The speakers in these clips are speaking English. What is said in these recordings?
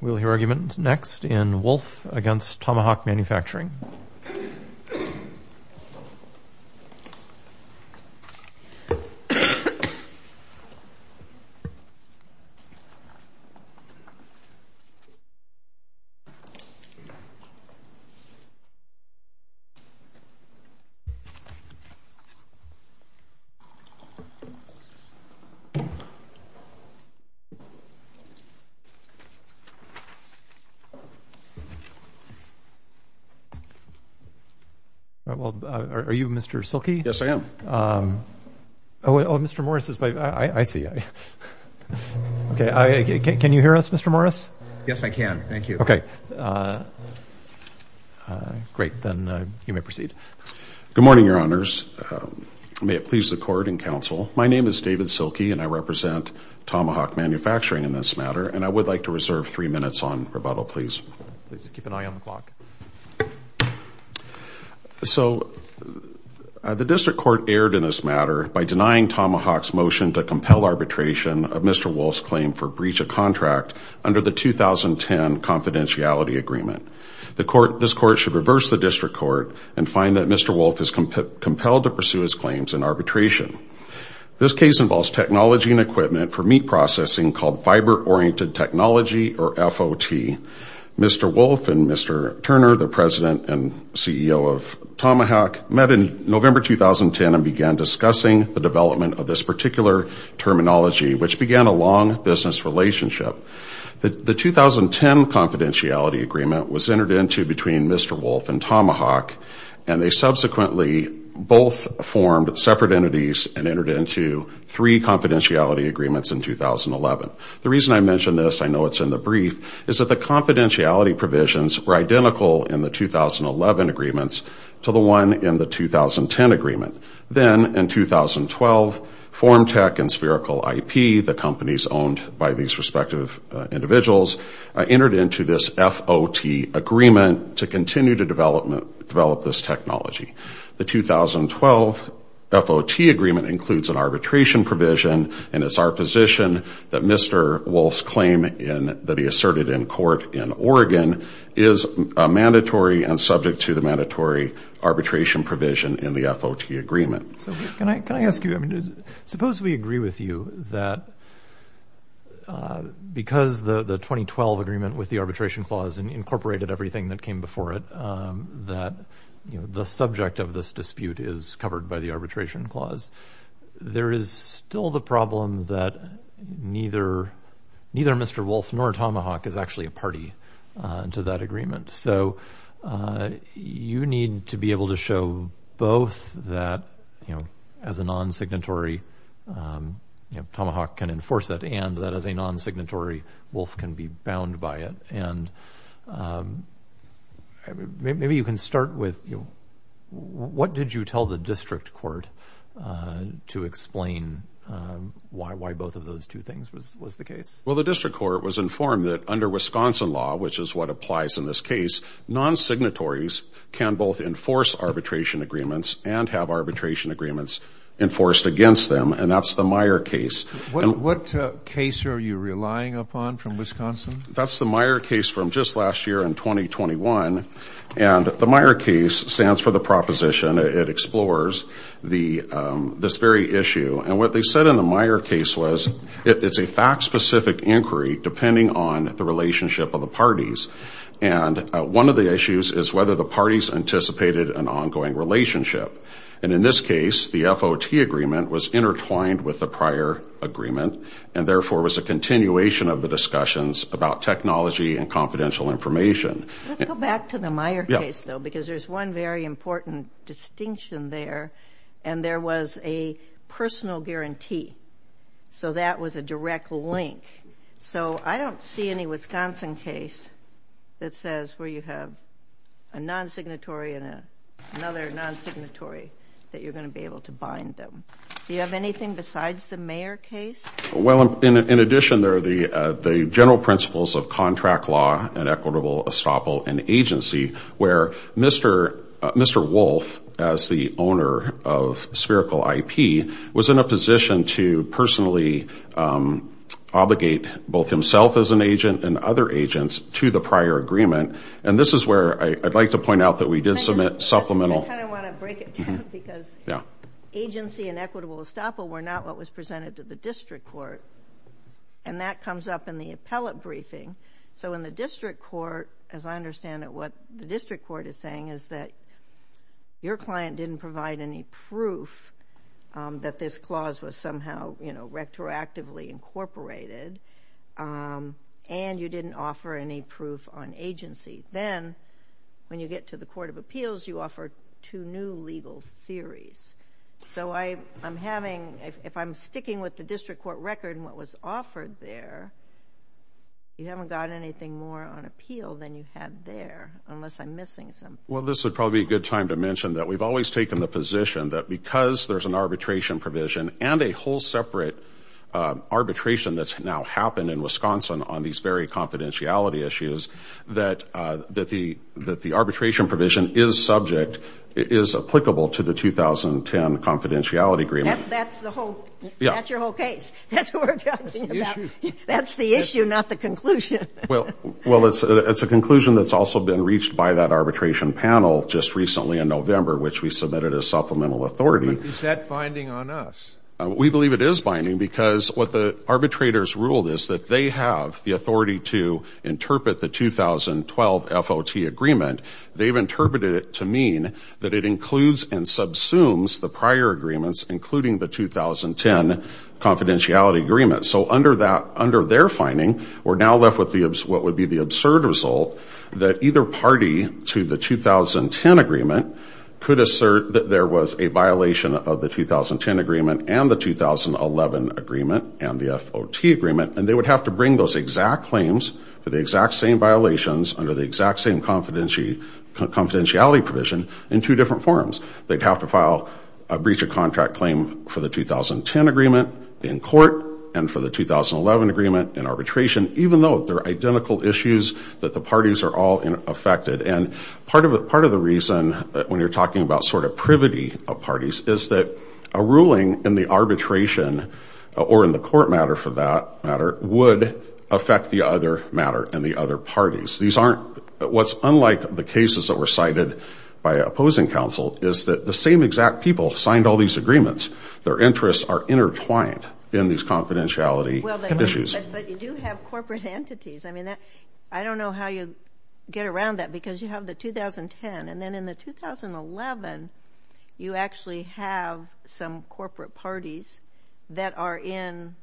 We'll hear arguments next in Wolff v. Tomahawk Manufacturing. David Silke, Tomahawk Manufacturing Good morning, Your Honors. May it please the Court and Counsel, my name is David Silke and I represent Tomahawk Manufacturing in this matter, and I would like to reserve three minutes on rebuttal, please. Please keep an eye on the clock. So, the District Court erred in this matter by denying Tomahawk's motion to compel arbitration of Mr. Wolff's claim for breach of contract under the 2010 confidentiality agreement. This Court should reverse the District Court and find that Mr. Wolff is compelled to pursue his claims in arbitration. This case involves technology and equipment for meat processing called Fiber Oriented Technology, or FOT. Mr. Wolff and Mr. Turner, the President and CEO of Tomahawk, met in November 2010 and began discussing the development of this particular terminology, which began a long business relationship. The 2010 confidentiality agreement was entered into between Mr. Wolff and Tomahawk, and they subsequently both formed separate entities and entered into three confidentiality agreements in 2011. The reason I mention this, I know it's in the brief, is that the confidentiality provisions were identical in the 2011 agreements to the one in the 2010 agreement. Then, in 2012, FormTech and Spherical IP, the companies owned by these respective individuals, entered into this FOT agreement to continue to develop this technology. The 2012 FOT agreement includes an arbitration provision, and it's our position that Mr. Wolff's claim that he asserted in court in Oregon is mandatory and subject to the mandatory arbitration provision in the FOT agreement. Can I ask you, suppose we agree with you that because the 2012 agreement with the arbitration clause incorporated everything that came before it, that the subject of this dispute is covered by the arbitration clause. There is still the problem that neither Mr. Wolff nor Tomahawk is actually a party to that agreement. You need to be able to show both that as a non-signatory, Tomahawk can enforce it, and that as a non-signatory, Wolff can be bound by it. Maybe you can start with, what did you tell the district court to explain why both of those two things was the case? Well, the district court was informed that under Wisconsin law, which is what applies in this case, non-signatories can both enforce arbitration agreements and have arbitration agreements enforced against them, and that's the Meyer case. What case are you relying upon from Wisconsin? That's the Meyer case from just last year in 2021, and the Meyer case stands for the proposition, it explores this very issue. And what they said in the Meyer case was it's a fact-specific inquiry depending on the relationship of the parties. And one of the issues is whether the parties anticipated an ongoing relationship. And in this case, the FOT agreement was intertwined with the prior agreement, and therefore was a continuation of the discussions about technology and confidential information. Let's go back to the Meyer case, though, because there's one very important distinction there, and there was a personal guarantee. So that was a direct link. So I don't see any Wisconsin case that says where you have a non-signatory and another non-signatory that you're going to be able to bind them. Do you have anything besides the Meyer case? Well, in addition, there are the general principles of contract law and equitable estoppel and agency, where Mr. Wolf, as the owner of Spherical IP, was in a position to personally obligate both himself as an agent and other agents to the prior agreement. And this is where I'd like to point out that we did submit supplemental. I kind of want to break it down because agency and equitable estoppel were not what was presented to the district court, and that comes up in the appellate briefing. So in the district court, as I understand it, what the district court is saying is that your client didn't provide any proof that this clause was somehow, you know, retroactively incorporated, and you didn't offer any proof on agency. Then, when you get to the court of appeals, you offer two new legal theories. So I'm having... if I'm sticking with the district court record and what was offered there, you haven't got anything more on appeal than you have there, unless I'm missing something. Well, this would probably be a good time to mention that we've always taken the position that because there's an arbitration provision and a whole separate arbitration that's now happened in Wisconsin on these very confidentiality issues, that the arbitration provision is subject, is applicable to the 2010 confidentiality agreement. That's the whole... Yeah. That's your whole case. That's what we're talking about. That's the issue. That's the issue, not the conclusion. Well, it's a conclusion that's also been reached by that arbitration panel just recently in November, which we submitted as supplemental authority. Is that binding on us? We believe it is binding because what the arbitrators ruled is that they have the authority to interpret the 2012 FOT agreement. They've interpreted it to mean that it includes and subsumes the prior agreements, including the 2010 confidentiality agreement. So under their finding, we're now left with what would be the absurd result that either party to the 2010 agreement could assert that there was a violation of the 2010 agreement and the 2011 agreement and the FOT agreement, and they would have to bring those exact claims for the exact same violations under the exact same confidentiality provision in two different forms. They'd have to file a breach of contract claim for the 2010 agreement in court and for the 2011 agreement in arbitration, even though they're identical issues that the parties are all affected. And part of the reason, when you're talking about sort of privity of parties, is that a ruling in the arbitration or in the court matter for that matter would affect the other matter and the other parties. What's unlike the cases that were cited by opposing counsel is that the same exact people signed all these agreements. Their interests are intertwined in these confidentiality issues. But you do have corporate entities. I mean, I don't know how you get around that because you have the 2010, and then in the 2011, you actually have some corporate parties that are in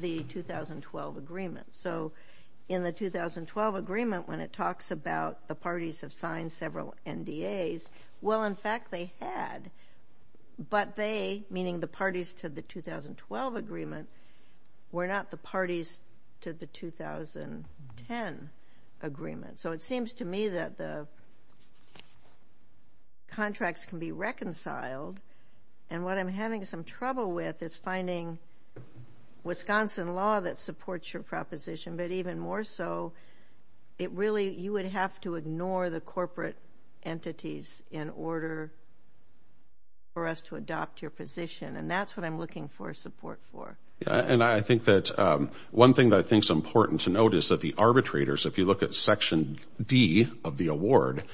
the 2012 agreement. So in the 2012 agreement, when it talks about the parties have signed several NDAs, well, in fact, they had, but they, meaning the parties to the 2012 agreement, were not the parties to the 2010 agreement. So it seems to me that the contracts can be reconciled, and what I'm having some trouble with is finding Wisconsin law that supports your proposition, but even more so, it really, you would have to ignore the corporate entities in order for us to adopt your position, and that's what I'm looking for support for. And I think that one thing that I think is important to note is that the arbitrators, if you look at Section D of the award,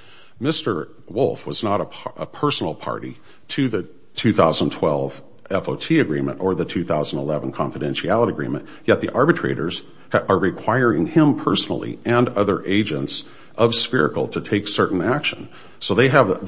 Mr. Wolf was not a personal party to the 2012 FOT agreement or the 2011 confidentiality agreement, yet the arbitrators are requiring him personally and other agents of SPHERICAL to take certain action. So they have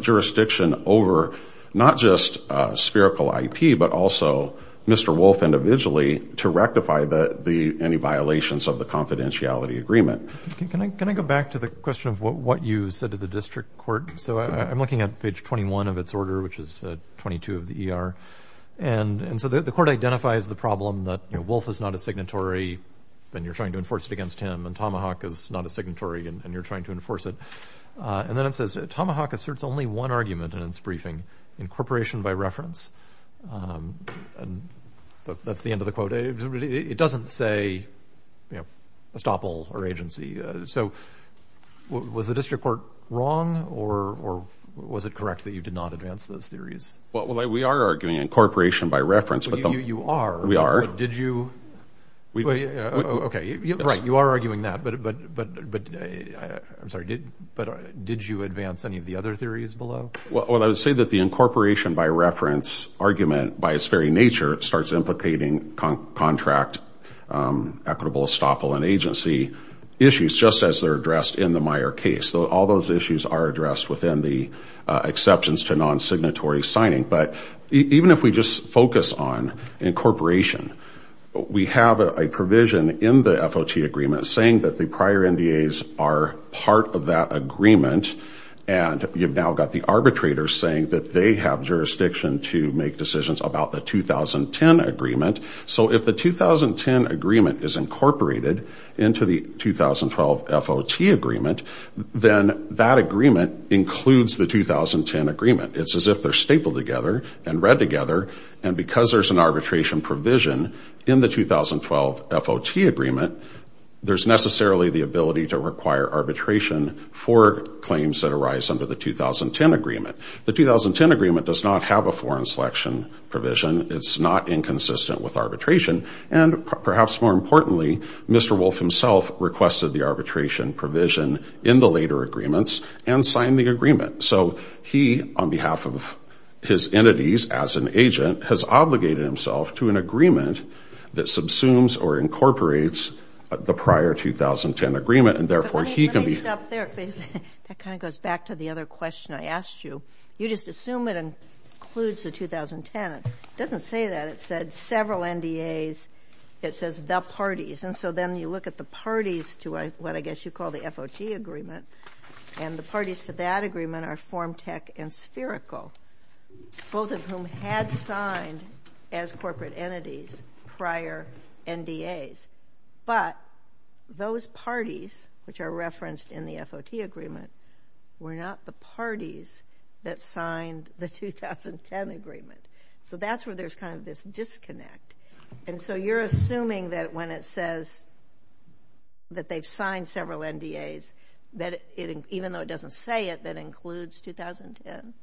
jurisdiction over not just SPHERICAL IP, but also Mr. Wolf individually to rectify any violations of the confidentiality agreement. Can I go back to the question of what you said to the district court? So I'm looking at page 21 of its order, which is 22 of the ER, and so the court identifies the problem that Wolf is not a signatory, then you're trying to enforce it against him, and Tomahawk is not a signatory and you're trying to enforce it. And then it says, Tomahawk asserts only one argument in its briefing, incorporation by reference. That's the end of the quote. It doesn't say estoppel or agency. So was the district court wrong, or was it correct that you did not advance those theories? Well, we are arguing incorporation by reference. You are? We are. Did you? Okay, right, you are arguing that, but I'm sorry, did you advance any of the other theories below? Well, I would say that the incorporation by reference argument, by its very nature, starts implicating contract, equitable estoppel, and agency issues, just as they're addressed in the Meyer case. All those issues are addressed within the exceptions to non-signatory signing. But even if we just focus on incorporation, we have a provision in the FOT agreement saying that the prior NDAs are part of that agreement, and you've now got the arbitrators saying that they have jurisdiction to make decisions about the 2010 agreement. So if the 2010 agreement is incorporated into the 2012 FOT agreement, then that agreement includes the 2010 agreement. It's as if they're stapled together and read together, and because there's an arbitration provision in the 2012 FOT agreement, there's necessarily the ability to require arbitration for claims that arise under the 2010 agreement. The 2010 agreement does not have a foreign selection provision. It's not inconsistent with arbitration. And perhaps more importantly, Mr. Wolf himself requested the arbitration provision in the later agreements and signed the agreement. So he, on behalf of his entities as an agent, has obligated himself to an agreement that subsumes or incorporates the prior 2010 agreement, and therefore he can be ---- But let me stop there, please. That kind of goes back to the other question I asked you. You just assume it includes the 2010. It doesn't say that. It said several NDAs. It says the parties. And so then you look at the parties to what I guess you call the FOT agreement, and the parties to that agreement are FormTech and Spherical, both of whom had signed as corporate entities prior NDAs. But those parties, which are referenced in the FOT agreement, were not the parties that signed the 2010 agreement. So that's where there's kind of this disconnect. And so you're assuming that when it says that they've signed several NDAs, that even though it doesn't say it, that includes 2010.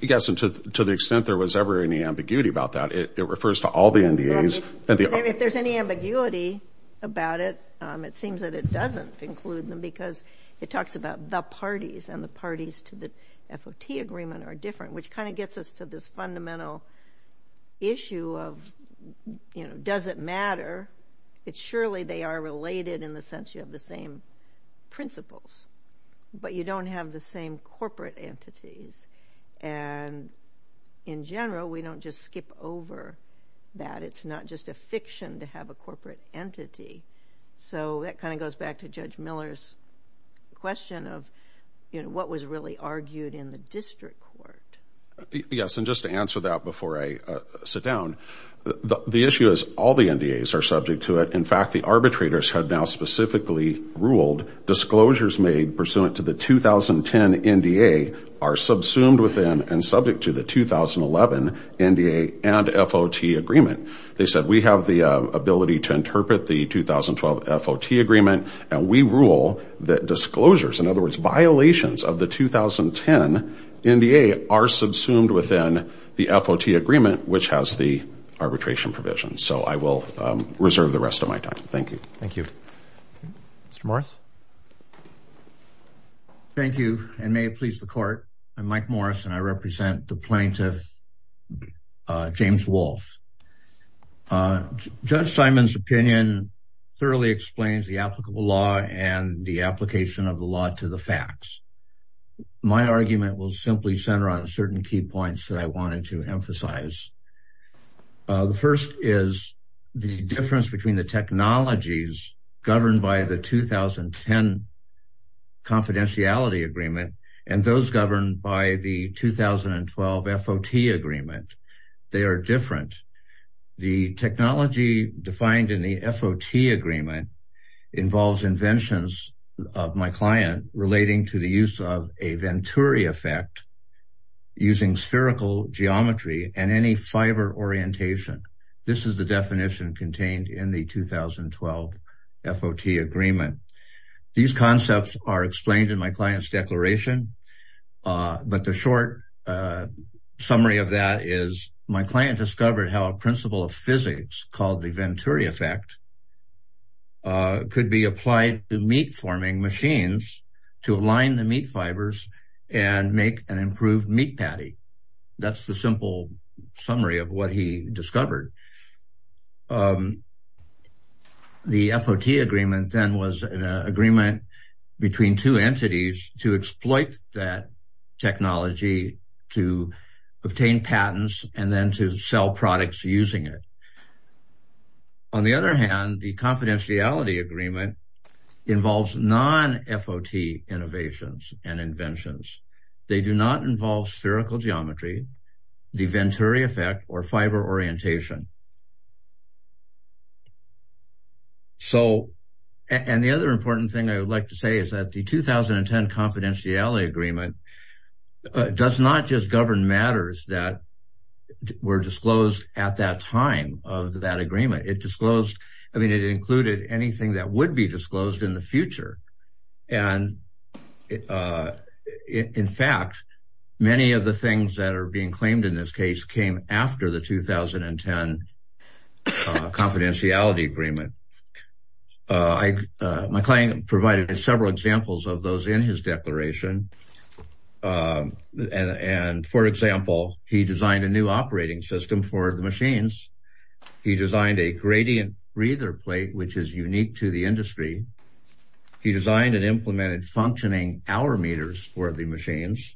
Yes, and to the extent there was ever any ambiguity about that, it refers to all the NDAs. If there's any ambiguity about it, it seems that it doesn't include them because it talks about the parties, and the parties to the FOT agreement are different, which kind of gets us to this fundamental issue of does it matter. Surely they are related in the sense you have the same principles, but you don't have the same corporate entities. And in general, we don't just skip over that. It's not just a fiction to have a corporate entity. So that kind of goes back to Judge Miller's question of, you know, what was really argued in the district court. Yes, and just to answer that before I sit down, the issue is all the NDAs are subject to it. In fact, the arbitrators have now specifically ruled disclosures made pursuant to the 2010 NDA are subsumed within and subject to the 2011 NDA and FOT agreement. They said, we have the ability to interpret the 2012 FOT agreement, and we rule that disclosures, in other words, violations of the 2010 NDA, are subsumed within the FOT agreement, which has the arbitration provision. So I will reserve the rest of my time. Thank you. Thank you. Mr. Morris? Thank you, and may it please the court. I'm Mike Morris, and I represent the plaintiff, James Walsh. Judge Simon's opinion thoroughly explains the applicable law and the application of the law to the facts. My argument will simply center on certain key points that I wanted to emphasize. The first is the difference between the technologies governed by the 2010 confidentiality agreement and those governed by the 2012 FOT agreement. They are different. The technology defined in the FOT agreement involves inventions of my client relating to the use of a Venturi effect using spherical geometry and any fiber orientation. This is the definition contained in the 2012 FOT agreement. These concepts are explained in my client's declaration, but the short summary of that is my client discovered how a principle of physics called the Venturi effect could be applied to meat-forming machines to align the meat fibers and make an improved meat patty. That's the simple summary of what he discovered. The FOT agreement then was an agreement between two entities to exploit that technology to obtain patents and then to sell products using it. On the other hand, the confidentiality agreement involves non-FOT innovations and inventions. They do not involve spherical geometry, the Venturi effect, or fiber orientation. The other important thing I would like to say is that the 2010 confidentiality agreement does not just govern matters that were disclosed at that time of that agreement. It included anything that would be disclosed in the future. In fact, many of the things that are being claimed in this case came after the 2010 confidentiality agreement. My client provided several examples of those in his declaration. For example, he designed a new operating system for the machines. He designed a gradient breather plate, which is unique to the industry. He designed and implemented functioning hour meters for the machines.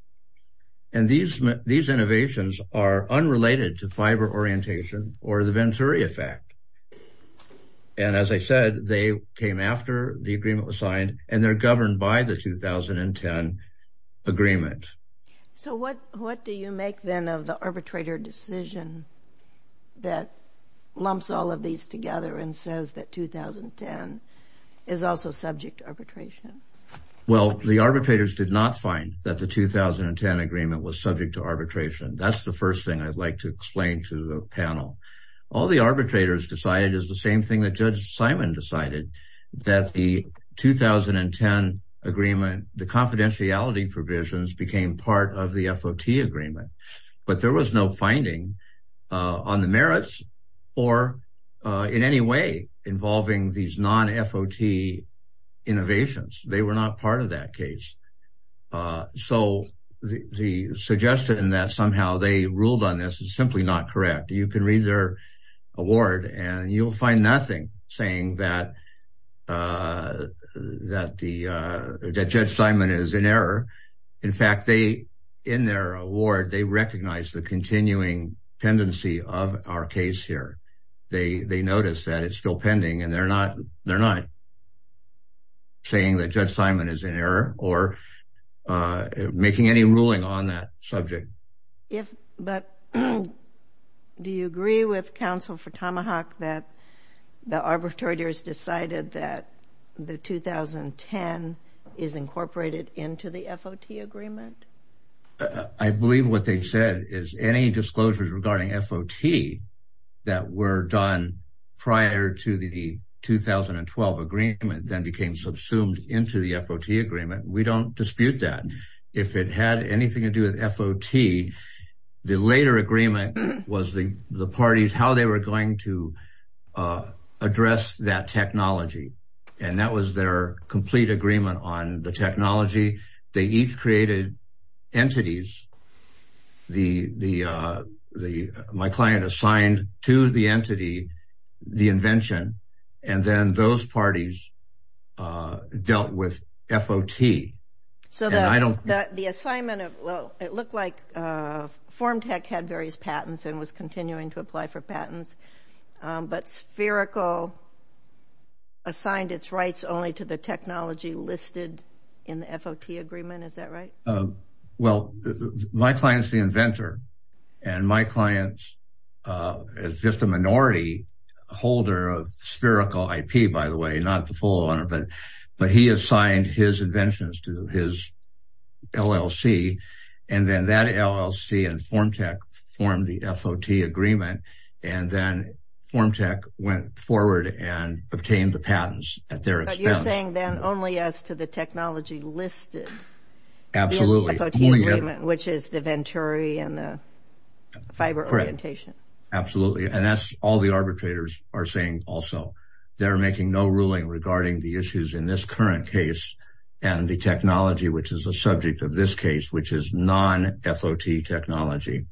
These innovations are unrelated to fiber orientation or the Venturi effect. As I said, they came after the agreement was signed, and they're governed by the 2010 agreement. So what do you make, then, of the arbitrator decision that lumps all of these together and says that 2010 is also subject to arbitration? Well, the arbitrators did not find that the 2010 agreement was subject to arbitration. That's the first thing I'd like to explain to the panel. All the arbitrators decided is the same thing that Judge Simon decided, that the 2010 agreement, the confidentiality provisions, became part of the FOT agreement. But there was no finding on the merits or in any way involving these non-FOT innovations. They were not part of that case. So the suggestion that somehow they ruled on this is simply not correct. You can read their award, and you'll find nothing saying that Judge Simon is in error. In fact, in their award, they recognize the continuing tendency of our case here. They notice that it's still pending, and they're not saying that Judge Simon is in error or making any ruling on that subject. But do you agree with counsel for Tomahawk that the arbitrators decided that the 2010 is incorporated into the FOT agreement? I believe what they said is any disclosures regarding FOT that were done prior to the 2012 agreement then became subsumed into the FOT agreement. We don't dispute that. If it had anything to do with FOT, the later agreement was the parties, how they were going to address that technology. And that was their complete agreement on the technology. They each created entities. My client assigned to the entity the invention, and then those parties dealt with FOT. So the assignment of – well, it looked like Formtech had various patents and was continuing to apply for patents, but Spherical assigned its rights only to the technology listed in the FOT agreement. Is that right? Well, my client is the inventor, and my client is just a minority holder of Spherical IP, by the way, not the full owner, but he assigned his inventions to his LLC, and then that LLC and Formtech formed the FOT agreement, and then Formtech went forward and obtained the patents at their expense. But you're saying then only as to the technology listed in the FOT agreement, which is the Venturi and the fiber orientation. Correct. Absolutely. And that's all the arbitrators are saying also. They're making no ruling regarding the issues in this current case and the technology which is the subject of this case, which is non-FOT technology.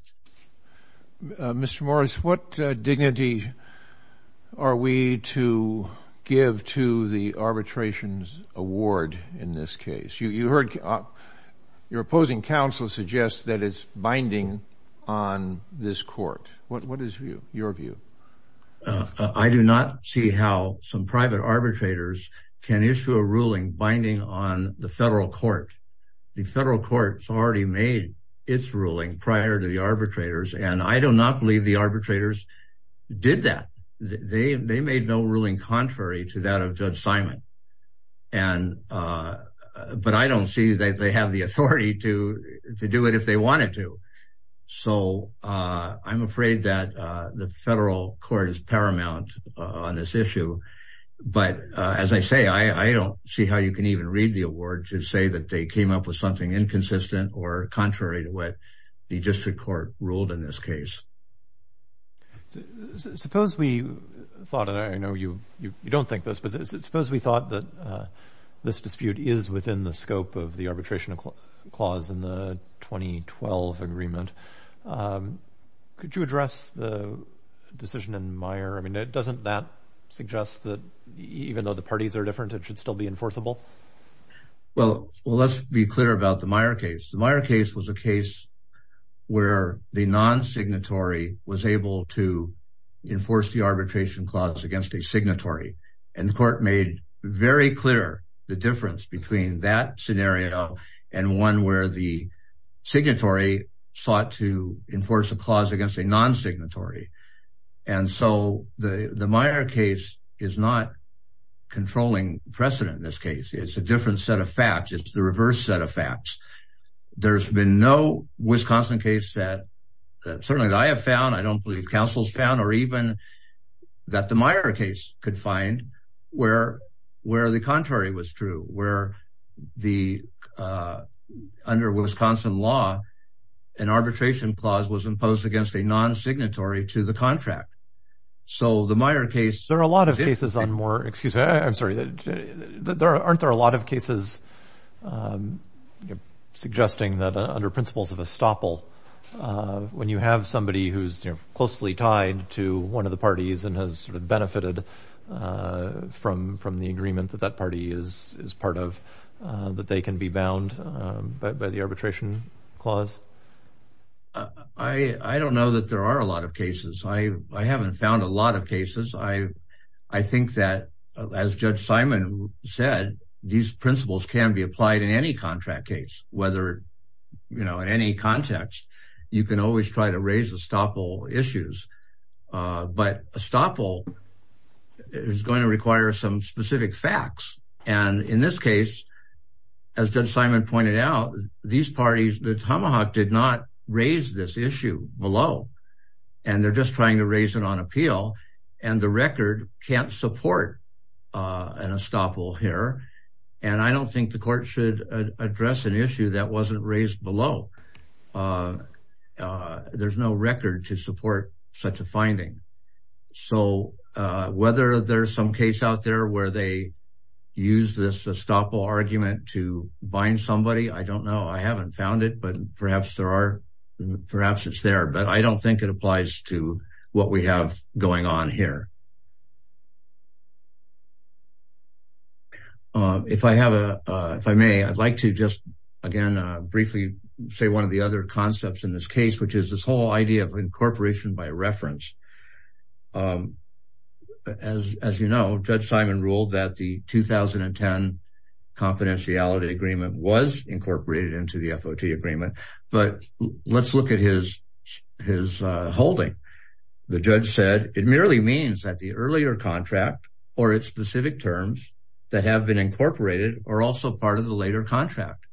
Mr. Morris, what dignity are we to give to the arbitrations award in this case? You heard your opposing counsel suggest that it's binding on this court. What is your view? I do not see how some private arbitrators can issue a ruling binding on the federal court. The federal court has already made its ruling prior to the arbitrators, and I do not believe the arbitrators did that. They made no ruling contrary to that of Judge Simon, but I don't see that they have the authority to do it if they wanted to. So I'm afraid that the federal court is paramount on this issue. But as I say, I don't see how you can even read the award to say that they came up with something inconsistent or contrary to what the district court ruled in this case. Suppose we thought, and I know you don't think this, but suppose we thought that this dispute is within the scope of the arbitration clause in the 2012 agreement. Could you address the decision in Meyer? I mean, doesn't that suggest that even though the parties are different, it should still be enforceable? Well, let's be clear about the Meyer case. The Meyer case was a case where the non-signatory was able to enforce the arbitration clause against a signatory. And the court made very clear the difference between that scenario and one where the signatory sought to enforce a clause against a non-signatory. And so the Meyer case is not controlling precedent in this case. It's a different set of facts. It's the reverse set of facts. There's been no Wisconsin case that certainly I have found, I don't believe counsel's found, or even that the Meyer case could find where the contrary was true, where under Wisconsin law, an arbitration clause was imposed against a non-signatory to the contract. So the Meyer case... There are a lot of cases on more... Excuse me. I'm sorry. Aren't there a lot of cases suggesting that under principles of estoppel, when you have somebody who's closely tied to one of the parties and has benefited from the agreement that that party is part of, that they can be bound by the arbitration clause? I don't know that there are a lot of cases. I haven't found a lot of cases. I think that, as Judge Simon said, these principles can be applied in any contract case, whether in any context. You can always try to raise estoppel issues. But estoppel is going to require some specific facts. And in this case, as Judge Simon pointed out, these parties, the Tomahawk did not raise this issue below. And they're just trying to raise it on appeal. And the record can't support an estoppel here. And I don't think the court should address an issue that wasn't raised below. There's no record to support such a finding. So whether there's some case out there where they use this estoppel argument to bind somebody, I don't know. I haven't found it, but perhaps there are... Perhaps it's there, but I don't think it applies to what we have going on here. If I have a... If I may, I'd like to just, again, briefly say one of the other concepts in this case, which is this whole idea of incorporation by reference. As you know, Judge Simon ruled that the 2010 confidentiality agreement was incorporated into the FOT agreement. But let's look at his holding. The judge said, it merely means that the earlier contract or its specific terms that have been incorporated are also part of the later contract.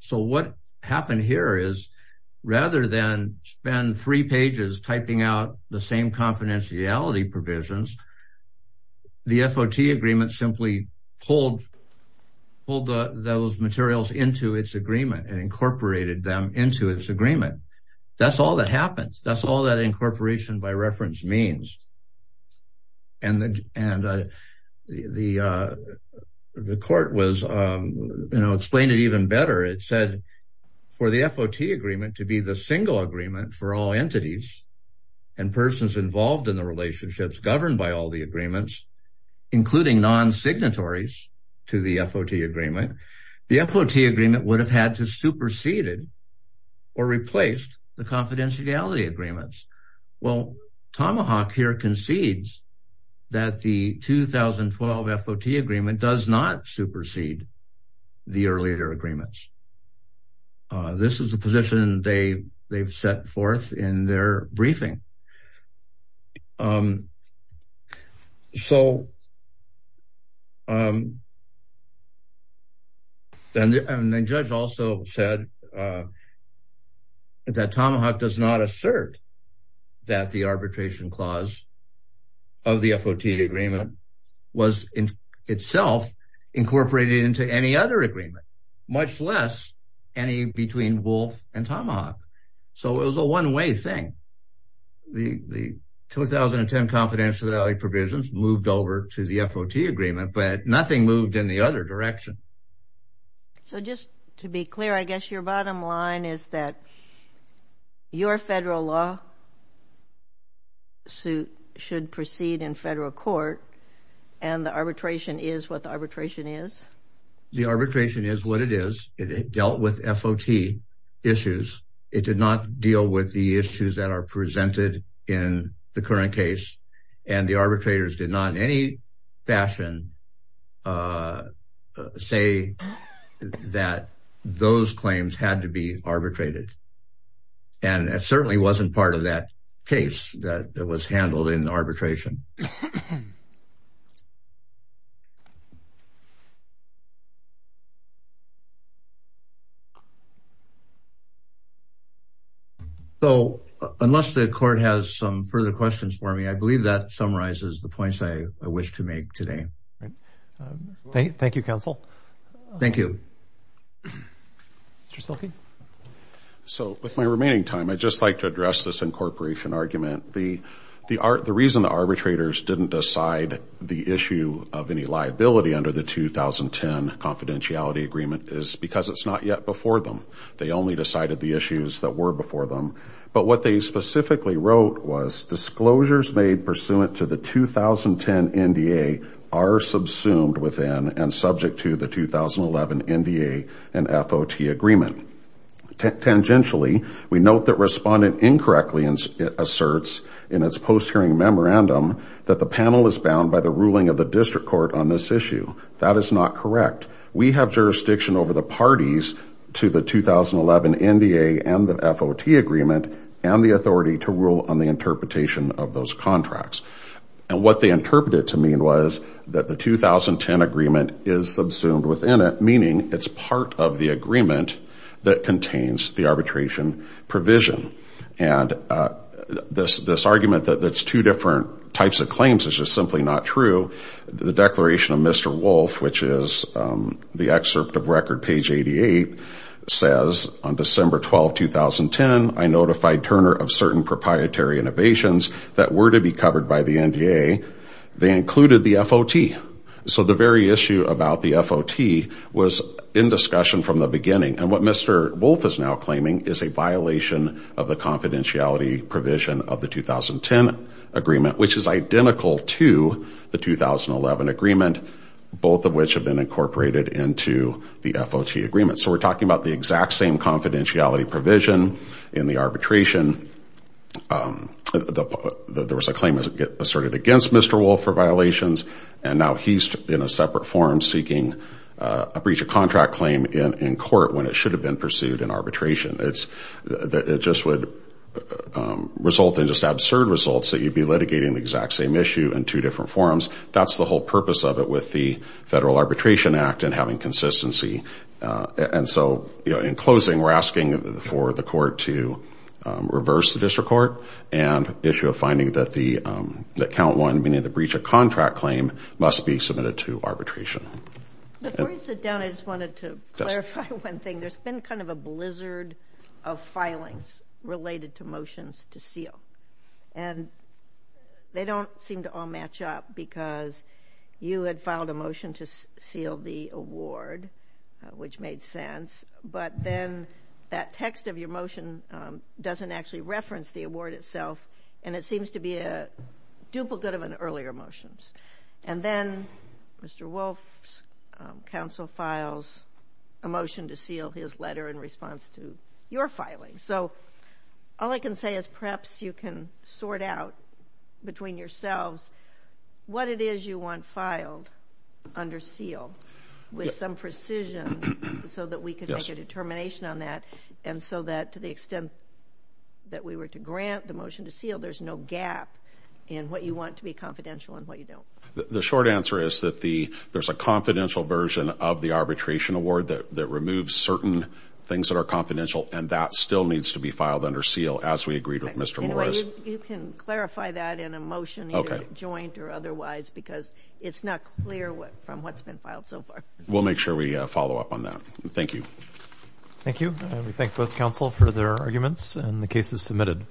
So what happened here is rather than spend three pages typing out the same confidentiality provisions, the FOT agreement simply pulled those materials into its agreement and incorporated them into its agreement. That's all that happens. That's all that incorporation by reference means. The court explained it even better. It said for the FOT agreement to be the single agreement for all entities and persons involved in the relationships governed by all the agreements, including non-signatories to the FOT agreement, the FOT agreement would have had to superseded or replaced the confidentiality agreements. Well, Tomahawk here concedes that the 2012 FOT agreement does not supersede the earlier agreements. This is the position they've set forth in their briefing. So then the judge also said that Tomahawk does not assert that the arbitration clause of the FOT agreement was itself incorporated into any other agreement, much less any between Wolf and Tomahawk. So it was a one-way thing. The 2010 confidentiality provisions moved over to the FOT agreement, but nothing moved in the other direction. So just to be clear, I guess your bottom line is that your federal law suit should proceed in federal court and the arbitration is what the arbitration is? The arbitration is what it is. It dealt with FOT issues. It did not deal with the issues that are presented in the current case, and the arbitrators did not in any fashion say that those claims had to be arbitrated. And it certainly wasn't part of that case that was handled in arbitration. So unless the court has some further questions for me, I believe that summarizes the points I wish to make today. Thank you, counsel. Thank you. Mr. Silkey. So with my remaining time, I'd just like to address this incorporation argument. The reason the arbitrators didn't decide the issue of any liability under the 2010 confidentiality agreement is because it's not yet before them. They only decided the issues that were before them. But what they specifically wrote was, disclosures made pursuant to the 2010 NDA are subsumed within and subject to the 2011 NDA and FOT agreement. Tangentially, we note that Respondent incorrectly asserts in its post-hearing memorandum that the panel is bound by the ruling of the district court on this issue. That is not correct. We have jurisdiction over the parties to the 2011 NDA and the FOT agreement and the authority to rule on the interpretation of those contracts. And what they interpreted to mean was that the 2010 agreement is subsumed within it, meaning it's part of the agreement that contains the arbitration provision. And this argument that it's two different types of claims is just simply not true. The declaration of Mr. Wolf, which is the excerpt of record page 88, says, on December 12, 2010, I notified Turner of certain proprietary innovations that were to be covered by the NDA. They included the FOT. So the very issue about the FOT was in discussion from the beginning. And what Mr. Wolf is now claiming is a violation of the confidentiality provision of the 2010 agreement, which is identical to the 2011 agreement, both of which have been incorporated into the FOT agreement. So we're talking about the exact same confidentiality provision in the arbitration. There was a claim asserted against Mr. Wolf for violations, and now he's in a separate forum seeking a breach of contract claim in court when it should have been pursued in arbitration. It just would result in just absurd results that you'd be litigating the exact same issue in two different forums. That's the whole purpose of it with the Federal Arbitration Act and having consistency. And so in closing, we're asking for the court to reverse the district court and issue a finding that count one, meaning the breach of contract claim, must be submitted to arbitration. Before you sit down, I just wanted to clarify one thing. There's been kind of a blizzard of filings related to motions to seal, and they don't seem to all match up because you had filed a motion to seal the award, which made sense, but then that text of your motion doesn't actually reference the award itself, and it seems to be a duplicate of an earlier motion. And then Mr. Wolf's counsel files a motion to seal his letter in response to your filing. So all I can say is perhaps you can sort out between yourselves what it is you want filed under seal with some precision so that we can make a determination on that and so that to the extent that we were to grant the motion to seal, there's no gap in what you want to be confidential and what you don't. The short answer is that there's a confidential version of the arbitration award that removes certain things that are confidential, and that still needs to be filed under seal as we agreed with Mr. Morris. You can clarify that in a motion, either joint or otherwise, because it's not clear from what's been filed so far. We'll make sure we follow up on that. Thank you. Thank you. We thank both counsel for their arguments, and the case is submitted.